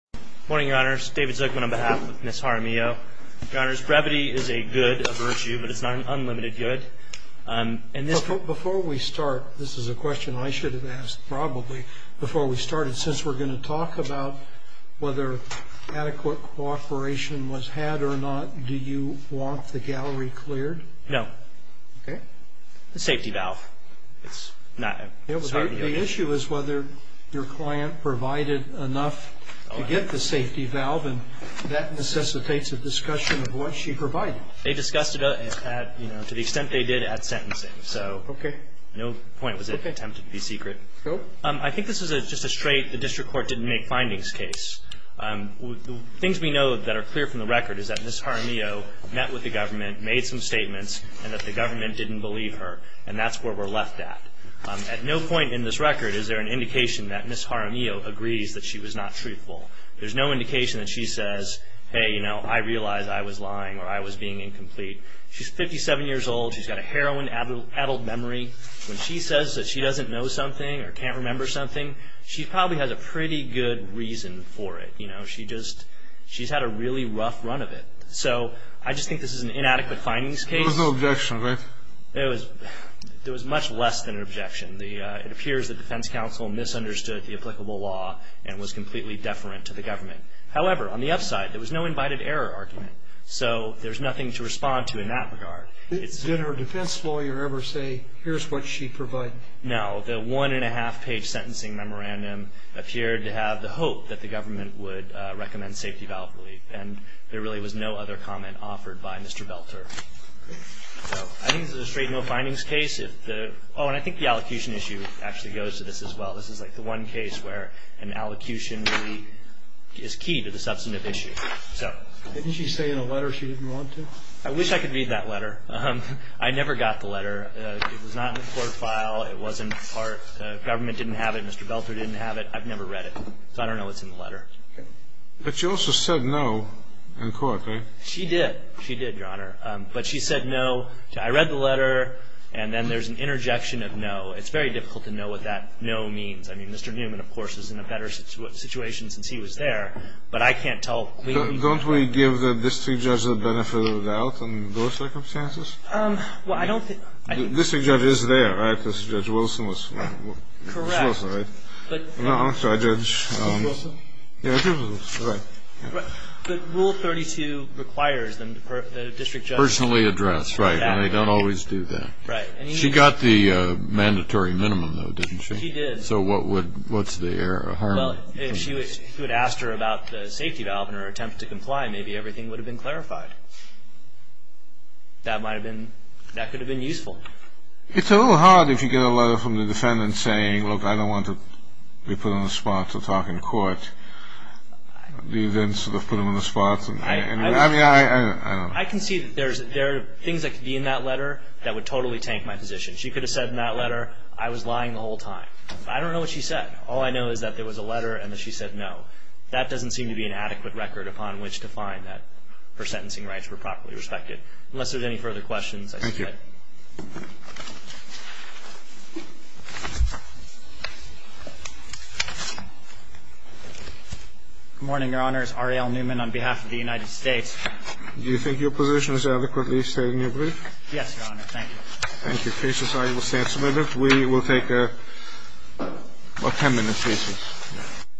Morning your honors, David Zuckman on behalf of Ms. Jaramillo. Your honors, brevity is a good, a virtue, but it's not an unlimited good. Before we start, this is a question I should have asked probably, before we started, since we're going to talk about whether adequate cooperation was had or not, do you want the gallery cleared? No. Okay. It's a safety valve. It's not. The issue is whether your client provided enough to get the safety valve, and that necessitates a discussion of what she provided. They discussed it at, you know, to the extent they did, at sentencing. Okay. So no point was it attempted to be secret. Okay. I think this is just a straight, the district court didn't make findings case. The things we know that are clear from the record is that Ms. Jaramillo met with the government, made some statements, and that the government didn't believe her. And that's where we're left at. At no point in this record is there an indication that Ms. Jaramillo agrees that she was not truthful. There's no indication that she says, hey, you know, I realize I was lying or I was being incomplete. She's 57 years old. She's got a heroin-addled memory. When she says that she doesn't know something or can't remember something, she probably has a pretty good reason for it. You know, she just, she's had a really rough run of it. So I just think this is an inadequate findings case. There was no objection, right? There was much less than an objection. It appears the defense counsel misunderstood the applicable law and was completely deferent to the government. However, on the upside, there was no invited error argument. So there's nothing to respond to in that regard. Did her defense lawyer ever say, here's what she provided? No. The one-and-a-half-page sentencing memorandum appeared to have the hope that the government would recommend safety valve relief. And there really was no other comment offered by Mr. Belter. So I think this is a straight no findings case. Oh, and I think the allocution issue actually goes to this as well. This is like the one case where an allocution really is key to the substantive issue. Didn't she say in a letter she didn't want to? I wish I could read that letter. I never got the letter. It was not in the court file. It wasn't part. The government didn't have it. Mr. Belter didn't have it. I've never read it. So I don't know what's in the letter. But she also said no in court, right? She did. She did, Your Honor. But she said no. I read the letter. And then there's an interjection of no. It's very difficult to know what that no means. I mean, Mr. Newman, of course, is in a better situation since he was there. But I can't tell. Don't we give the district judge the benefit of the doubt in those circumstances? Well, I don't think. The district judge is there, right? Because Judge Wilson was. Judge Wilson, right? No, I'm sorry, Judge. Steve Wilson? Yeah, Steve Wilson. Right. Rule 32 requires them, the district judge. Personally address. Right. And they don't always do that. Right. She got the mandatory minimum, though, didn't she? She did. So what's the harm? Well, if she would have asked her about the safety valve in her attempt to comply, maybe everything would have been clarified. That could have been useful. It's a little hard if you get a letter from the defendant saying, look, I don't want to be put on the spot to talk in court. You then sort of put them on the spot. I mean, I don't know. I can see that there are things that could be in that letter that would totally tank my position. She could have said in that letter, I was lying the whole time. I don't know what she said. All I know is that there was a letter and that she said no. That doesn't seem to be an adequate record upon which to find that her sentencing rights were properly respected. Unless there's any further questions. Thank you. Good morning, Your Honors. Ariel Newman on behalf of the United States. Do you think your position is adequately stated in your brief? Yes, Your Honor. Thank you. Thank you. Cases, I will stand submitted. We will take a 10-minute recess.